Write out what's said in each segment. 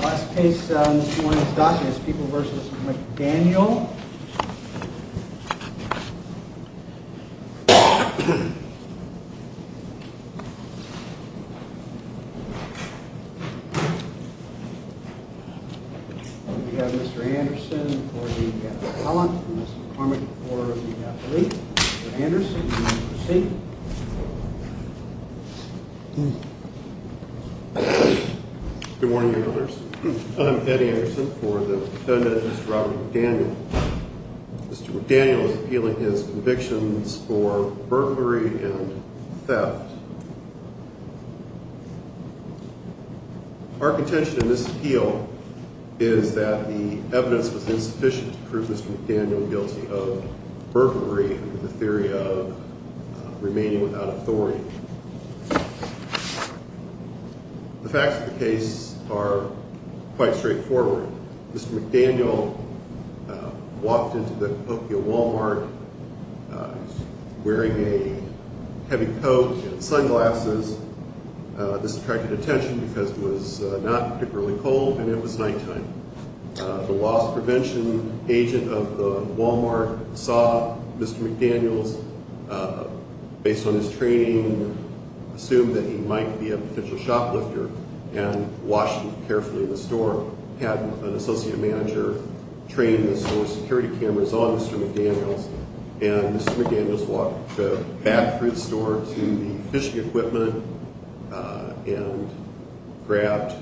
Last case on this morning's docket is People v. McDaniel. We have Mr. Anderson for the appellant, Mr. Cormick for the athlete. Good morning, Your Honors. I'm Eddie Anderson for the defendant, Mr. Robert McDaniel. Mr. McDaniel is appealing his convictions for burglary and theft. Our contention in this appeal is that the evidence was insufficient to prove Mr. McDaniel guilty of burglary and the theory of remaining without authority. The facts of the case are quite straightforward. Mr. McDaniel walked into the Tokyo Walmart wearing a heavy coat and sunglasses. This attracted attention because it was not particularly cold and it was nighttime. The loss prevention agent of the Walmart saw Mr. McDaniel, based on his training, assumed that he might be a potential shoplifter and watched him carefully in the store, had an associate manager train the security cameras on Mr. McDaniel and Mr. McDaniel walked back through the store to the fishing equipment and grabbed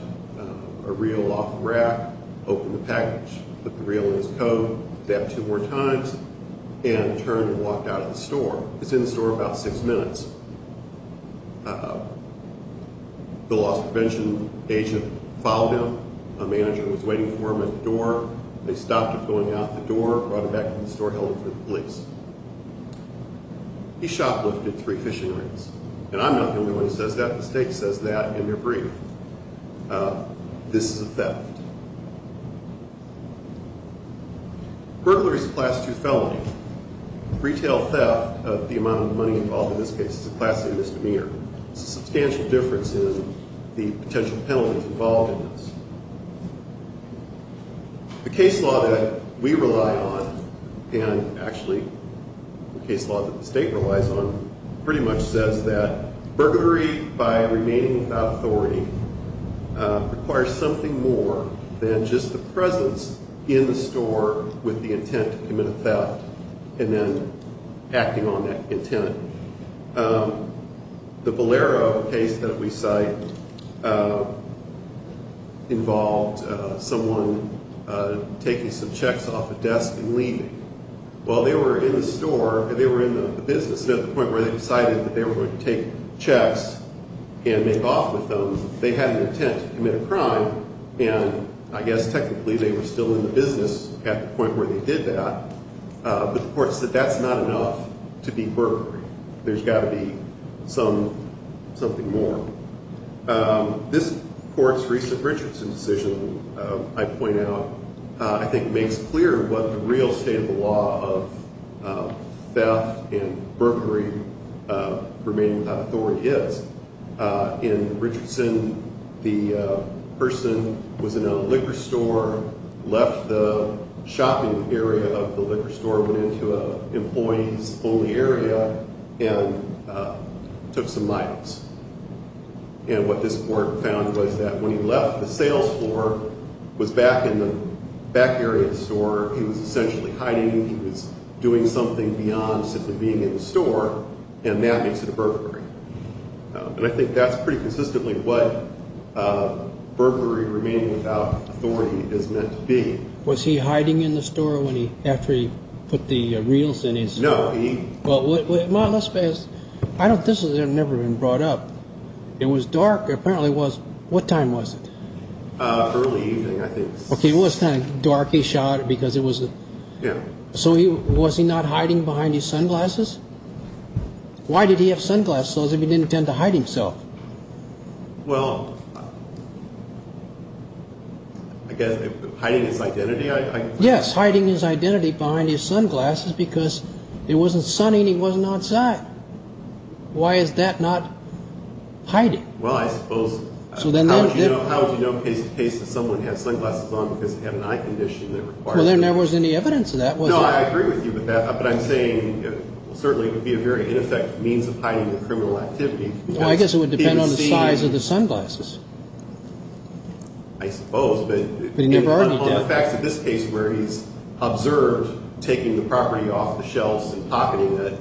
a reel off the rack, opened the package, put the reel in his coat, did that two more times, and turned and walked out of the store. He was in the store about six minutes. The loss prevention agent followed him. A manager was waiting for him at the door. They stopped him going out the door, brought him back to the store, held him to the police. He shoplifted three fishing rigs. And I'm not going to go into what he says, the state says that in their brief. This is a theft. Burglary is a Class II felony. Retail theft of the amount of money involved in this case is a Class A misdemeanor. It's a substantial difference in the potential penalties involved in this. The case law that we rely on, and actually the case law that the state relies on, pretty much says that burglary by remaining without authority requires something more than just the presence in the store with the intent to commit a theft, and then acting on that intent. The Valero case that we cite involved someone taking some checks off a desk and leaving. While they were in the store, they were in the business, and at the point where they decided that they were going to take checks and make off with them, they had an intent to commit a crime, and I guess technically they were still in the business at the point where they did that. But the court said that's not enough to be burglary. There's got to be something more. This court's recent Richardson decision, I point out, I think makes clear what the real state of the law of theft and burglary, remaining without authority, is. In Richardson, the person was in a liquor store, left the shopping area of the liquor store, went into an employee's only area, and took some miles. And what this court found was that when he left the sales floor, was back in the back area of the store, he was essentially hiding, he was doing something beyond simply being in the store, and that makes it a burglary. And I think that's pretty consistently what burglary, remaining without authority, is meant to be. Was he hiding in the store after he put the reels in his? No. Well, let's face it. This has never been brought up. It was dark. Apparently it was. What time was it? Early evening, I think. Okay, it was kind of dark. He shot because it was. Yeah. So was he not hiding behind his sunglasses? Why did he have sunglasses if he didn't intend to hide himself? Well, I guess hiding his identity, I guess. Yes, hiding his identity behind his sunglasses because it wasn't sunny and he wasn't outside. Why is that not hiding? Well, I suppose, how would you know case to case that someone has sunglasses on because they have an eye condition? Well, there never was any evidence of that, was there? Well, I agree with you with that, but I'm saying it certainly would be a very ineffective means of hiding the criminal activity. I guess it would depend on the size of the sunglasses. I suppose, but on the facts of this case where he's observed taking the property off the shelves and pocketing it.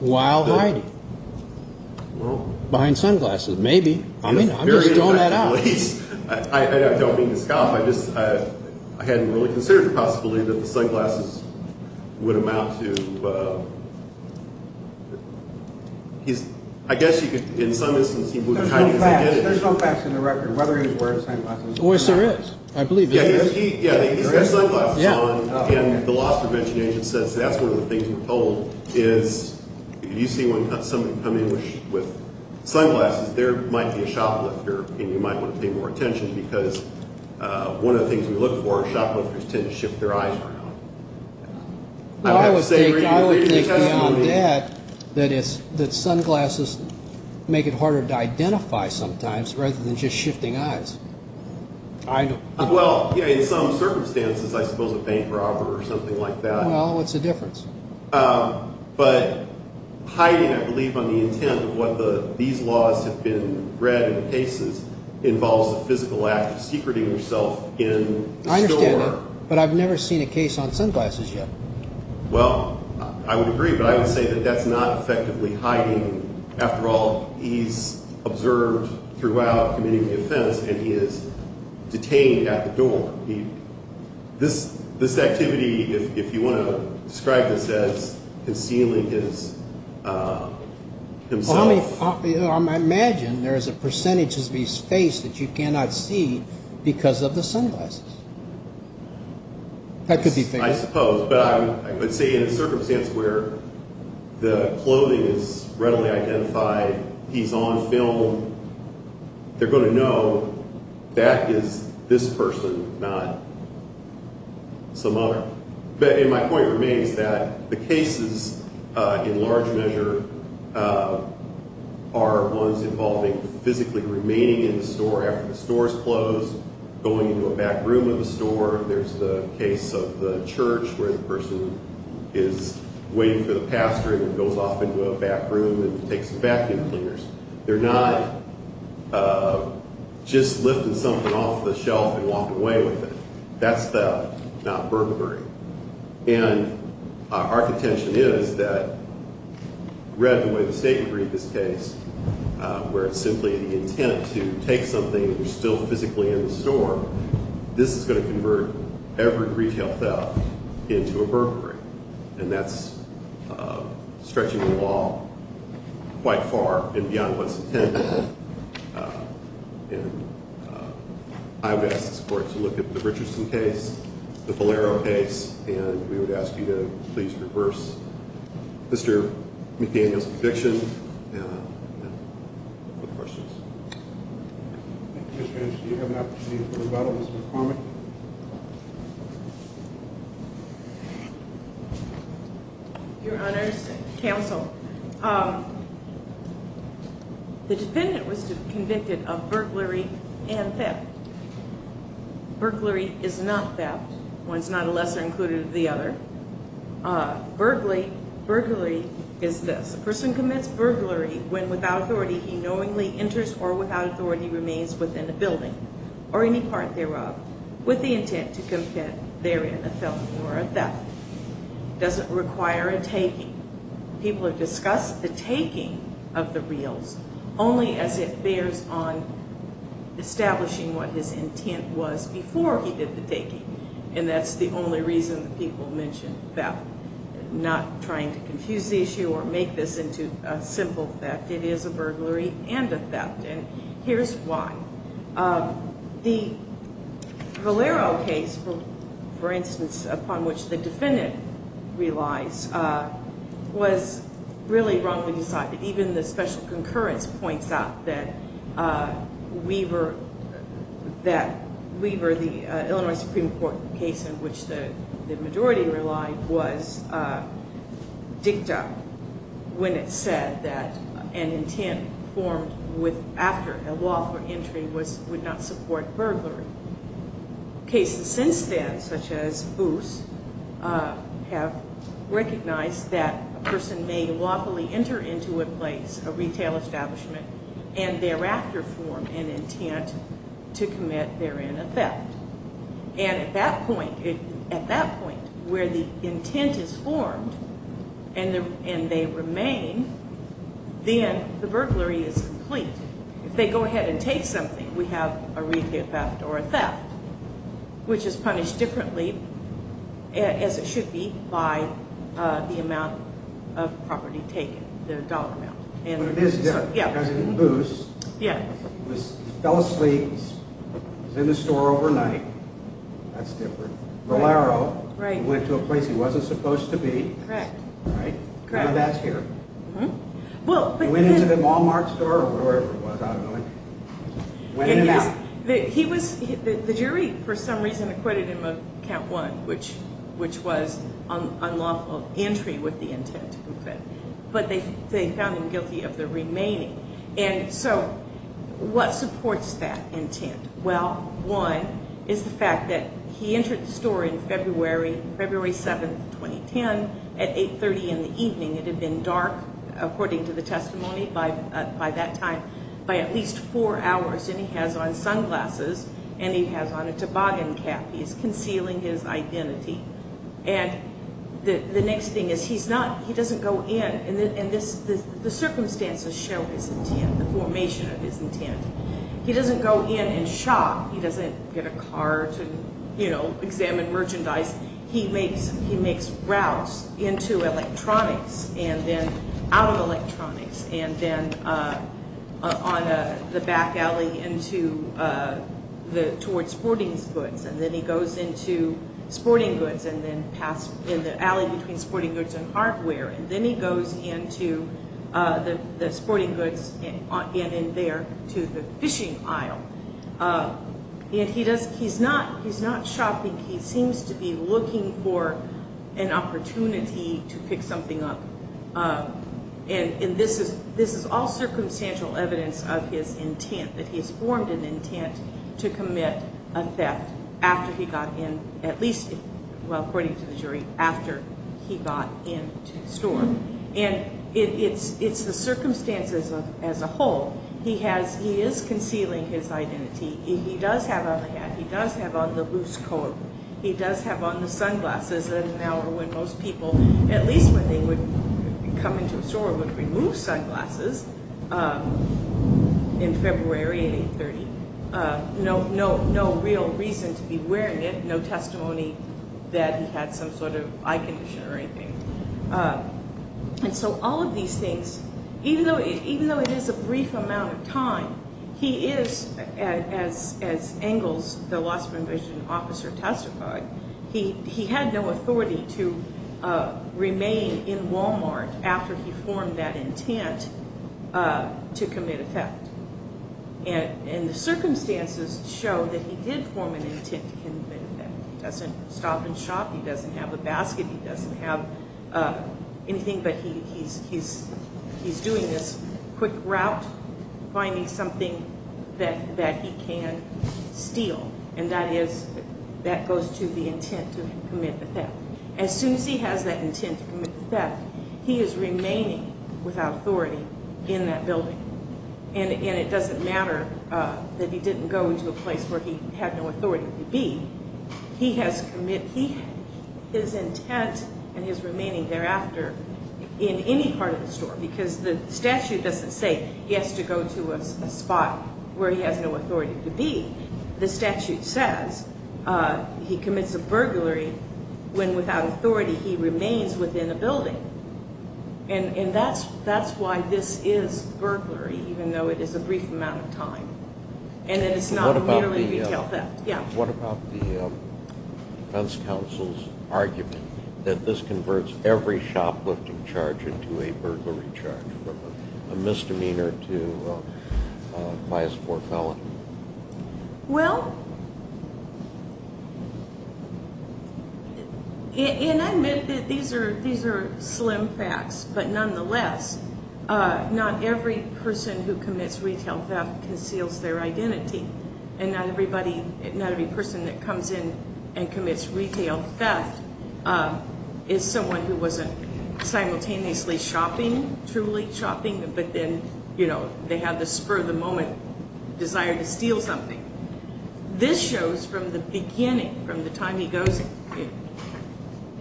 While hiding. Behind sunglasses, maybe. I'm just throwing that out. I don't mean to scoff. I just, I hadn't really considered the possibility that the sunglasses would amount to. I guess you could, in some instances. There's some facts in the record, whether he was wearing sunglasses or not. Oh, yes, there is. I believe there is. Yeah, he's got sunglasses on. And the loss prevention agent says that's one of the things we're told. If you see someone come in with sunglasses, there might be a shoplifter, and you might want to pay more attention because one of the things we look for is shoplifters tend to shift their eyes around. I would take down that, that sunglasses make it harder to identify sometimes rather than just shifting eyes. Well, in some circumstances, I suppose a bank robber or something like that. Well, what's the difference? But hiding, I believe, on the intent of what these laws have been read in cases involves a physical act of secreting yourself in the store. I understand that, but I've never seen a case on sunglasses yet. Well, I would agree, but I would say that that's not effectively hiding. After all, he's observed throughout committing the offense, and he is detained at the door. This activity, if you want to describe this as concealing himself. Well, I imagine there is a percentage of his face that you cannot see because of the sunglasses. That could be fair. I suppose, but I would say in a circumstance where the clothing is readily identified, he's on film, they're going to know that is this person, not some other. My point remains that the cases, in large measure, are ones involving physically remaining in the store after the store is closed, going into a back room of the store. There's the case of the church where the person is waiting for the pastor and goes off into a back room and takes vacuum cleaners. They're not just lifting something off the shelf and walking away with it. That's theft, not burglary. And our contention is that, read the way the state would read this case, where it's simply the intent to take something that's still physically in the store, this is going to convert every retail theft into a burglary. And that's stretching the law quite far and beyond what's intended. And I would ask the court to look at the Richardson case, the Valero case, and we would ask you to please reverse Mr. McDaniel's conviction. Any other questions? Thank you, Judge. Do you have an opportunity for rebuttal, Mr. Cormack? Your Honors, counsel, the defendant was convicted of burglary and theft. Burglary is not theft. One's not a lesser included of the other. Burglary is this. A person commits burglary when, without authority, he knowingly enters or, without authority, remains within a building or any part thereof with the intent to commit therein a theft. It doesn't require a taking. People have discussed the taking of the reels only as it bears on establishing what his intent was before he did the taking. And that's the only reason people mention theft, not trying to confuse the issue or make this into a simple theft. It is a burglary and a theft, and here's why. The Valero case, for instance, upon which the defendant relies, was really wrongly decided. Even the special concurrence points out that Weaver, the Illinois Supreme Court case in which the majority relied, was dicta when it said that an intent formed after a lawful entry would not support burglary. Cases since then, such as Booth's, have recognized that a person may lawfully enter into a place, a retail establishment, and thereafter form an intent to commit therein a theft. And at that point, where the intent is formed and they remain, then the burglary is complete. If they go ahead and take something, we have a retail theft or a theft, which is punished differently, as it should be, by the amount of property taken, the dollar amount. But it is different. In Booth's, he fell asleep, was in the store overnight. That's different. Valero, he went to a place he wasn't supposed to be. Correct. Now that's here. He went into the Walmart store or wherever it was, I don't know. Went in and out. The jury, for some reason, acquitted him of count one, which was unlawful entry with the intent to commit. But they found him guilty of the remaining. And so, what supports that intent? Well, one is the fact that he entered the store on February 7, 2010, at 830 in the evening. It had been dark, according to the testimony, by that time, by at least four hours. And he has on sunglasses and he has on a toboggan cap. He's concealing his identity. And the next thing is he doesn't go in. And the circumstances show his intent, the formation of his intent. He doesn't go in and shop. He doesn't get a car to, you know, examine merchandise. He makes routes into electronics and then out of electronics. And then on the back alley into the, towards sporting goods. And then he goes into sporting goods and then past, in the alley between sporting goods and hardware. And then he goes into the sporting goods and in there to the fishing aisle. And he's not shopping. He seems to be looking for an opportunity to pick something up. And this is all circumstantial evidence of his intent, that he's formed an intent to commit a theft after he got in, at least, well, according to the jury, after he got into the store. And it's the circumstances as a whole. He has, he is concealing his identity. He does have on a hat. He does have on the loose coat. He does have on the sunglasses. And now when most people, at least when they would come into a store, would remove sunglasses in February at 830. No real reason to be wearing it. No testimony that he had some sort of eye condition or anything. And so all of these things, even though it is a brief amount of time, he is, as Engles, the loss of a vision officer testified, he had no authority to remain in Walmart after he formed that intent to commit a theft. And the circumstances show that he did form an intent to commit a theft. He doesn't stop and shop. He doesn't have a basket. He doesn't have anything. But he's doing this quick route, finding something that he can steal. And that is, that goes to the intent to commit the theft. As soon as he has that intent to commit the theft, he is remaining without authority in that building. And it doesn't matter that he didn't go to a place where he had no authority to be. He has his intent and his remaining thereafter in any part of the store. Because the statute doesn't say he has to go to a spot where he has no authority to be. The statute says he commits a burglary when without authority he remains within a building. And that's why this is burglary, even though it is a brief amount of time. And it's not merely a retail theft. What about the defense counsel's argument that this converts every shoplifting charge into a burglary charge, from a misdemeanor to a class 4 felony? Well, and I admit that these are slim facts. But nonetheless, not every person who commits retail theft conceals their identity. And not every person that comes in and commits retail theft is someone who wasn't simultaneously shopping, truly shopping. But then, you know, they have the spur of the moment desire to steal something. This shows from the beginning, from the time he goes,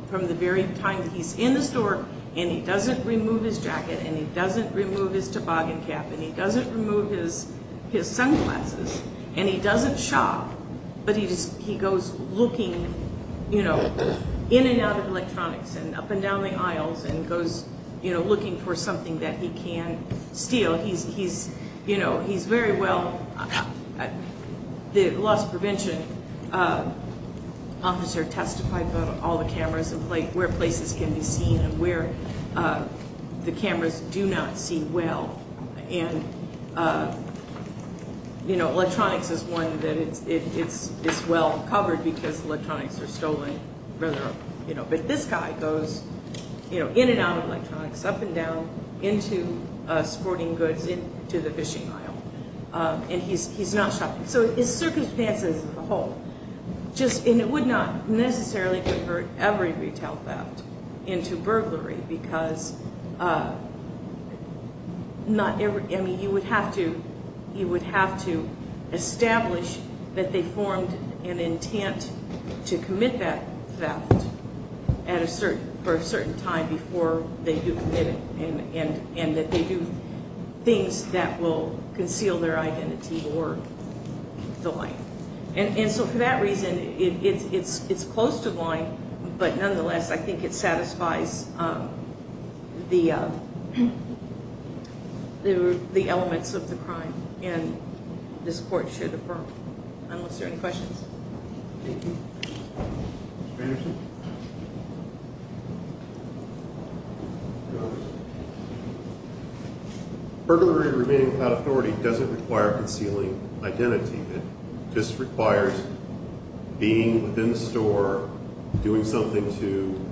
from the very time he's in the store, and he doesn't remove his jacket, and he doesn't remove his toboggan cap, and he doesn't remove his sunglasses, and he doesn't shop, but he goes looking, you know, in and out of electronics and up and down the aisles and goes, you know, looking for something that he can steal. He's, you know, he's very well. The loss prevention officer testified about all the cameras and where places can be seen and where the cameras do not see well. And, you know, electronics is one that it's well covered because electronics are stolen. You know, but this guy goes, you know, in and out of electronics, up and down, into sporting goods, into the fishing aisle, and he's not shopping. So the circumstances as a whole just, and it would not necessarily convert every retail theft into burglary because not every, I mean, you would have to, you would have to establish that they formed an intent to commit that theft at a certain, for a certain time before they do commit it, and that they do things that will conceal their identity or the life. And so for that reason, it's close to the line, but nonetheless, I think it satisfies the elements of the crime. And this court should affirm. Unless there are any questions. Thank you. Mr. Anderson? Burglary and remaining without authority doesn't require concealing identity. It just requires being within the store, doing something to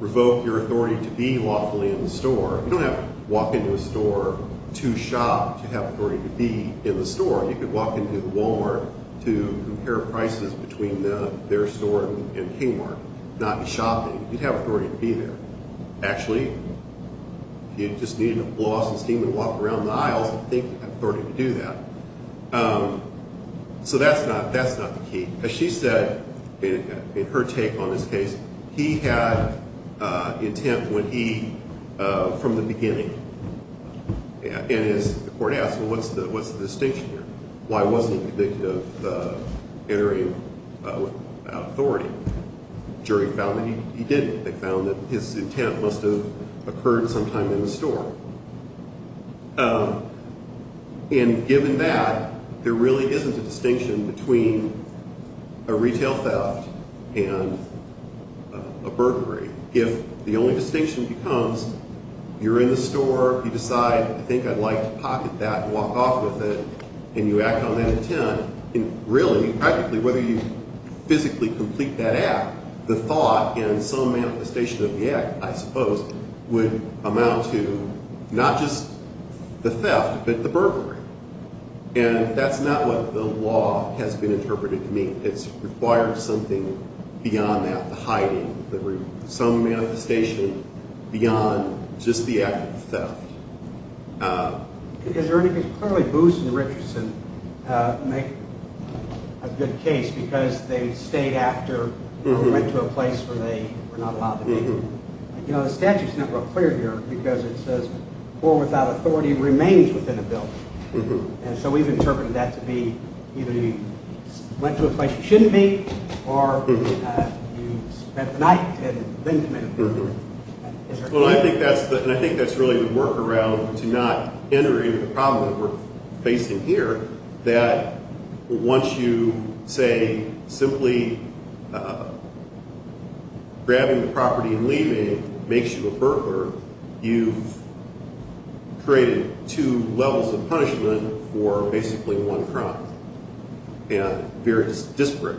revoke your authority to be lawfully in the store. You don't have to walk into a store to shop to have authority to be in the store. You could walk into the Wal-Mart to compare prices between their store and King Mark, not be shopping. You'd have authority to be there. Actually, if you just needed a blouse and steamer to walk around the aisles, I think you'd have authority to do that. So that's not the key. As she said in her take on this case, he had intent when he, from the beginning. And as the court asked, well, what's the distinction here? Why wasn't he convicted of entering without authority? The jury found that he didn't. They found that his intent must have occurred sometime in the store. And given that, there really isn't a distinction between a retail theft and a burglary. If the only distinction becomes you're in the store, you decide, I think I'd like to pocket that and walk off with it, and you act on that intent, really, practically, whether you physically complete that act, the thought and some manifestation of the act, I suppose, would amount to not just the theft but the burglary. And that's not what the law has been interpreting to me. I think it requires something beyond that, the hiding, some manifestation beyond just the act of theft. Is there anything clearly Booth and Richardson make a good case because they stayed after or went to a place where they were not allowed to go to? You know, the statute's not real clear here because it says poor without authority remains within a building. And so we've interpreted that to be either you went to a place you shouldn't be or you spent the night and then came in. Well, I think that's really the workaround to not enter into the problem that we're facing here, that once you say simply grabbing the property and leaving makes you a burglar, you've created two levels of punishment for basically one crime and various disparate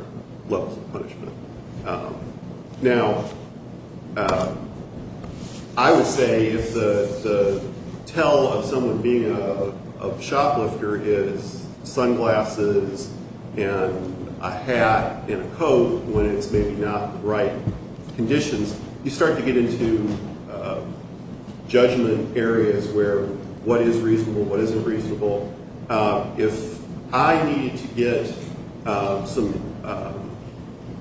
levels of punishment. Now, I would say if the tell of someone being a shoplifter is sunglasses and a hat and a coat when it's maybe not the right conditions, you start to get into judgment areas where what is reasonable, what isn't reasonable. If I need to get some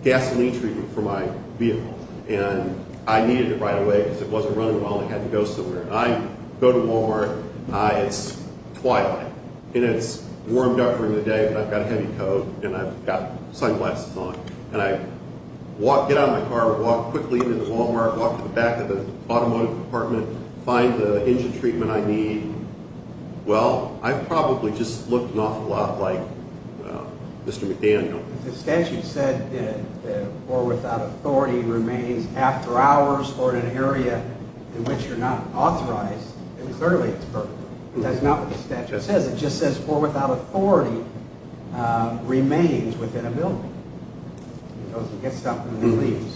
gasoline treatment for my vehicle and I needed it right away because it wasn't running well and I had to go somewhere, I go to Walmart, it's twilight and it's warm during the day but I've got a heavy coat and I've got sunglasses on. And I get out of the car, walk quickly into the Walmart, walk to the back of the automotive department, find the engine treatment I need. Well, I've probably just looked an awful lot like Mr. McDaniel. The statute said that the poor without authority remains after hours or in an area in which you're not authorized. It was early. It's perfect. That's not what the statute says. It just says poor without authority remains within a building. Those who get something, they leave.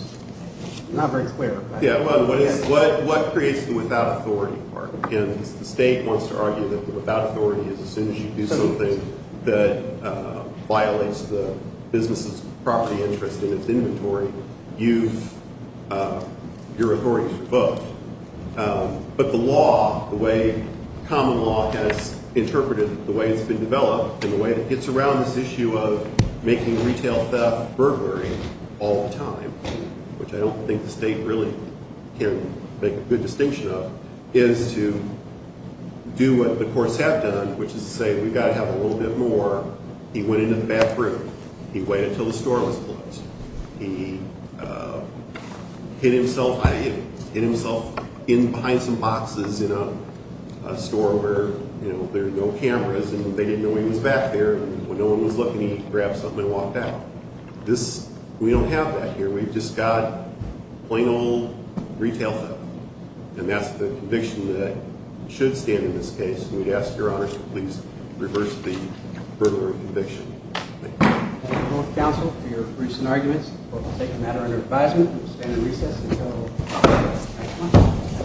It's not very clear. Yeah, well, what creates the without authority part? And the state wants to argue that the without authority is as soon as you do something that violates the business's property interest in its inventory, you're authorized to vote. But the law, the way common law has interpreted it, the way it's been developed and the way it gets around this issue of making retail theft burglary all the time, which I don't think the state really can make a good distinction of, is to do what the courts have done, which is to say we've got to have a little bit more. He went into the bathroom. He waited until the store was closed. He hid himself behind some boxes in a store where there are no cameras and they didn't know he was back there. When no one was looking, he grabbed something and walked out. We don't have that here. We've just got plain old retail theft. And that's the conviction that should stand in this case. And we'd ask Your Honor to please reverse the burglary conviction. Thank you. Thank you both, counsel, for your recent arguments. The court will take the matter under advisement. We will stand in recess until the next one.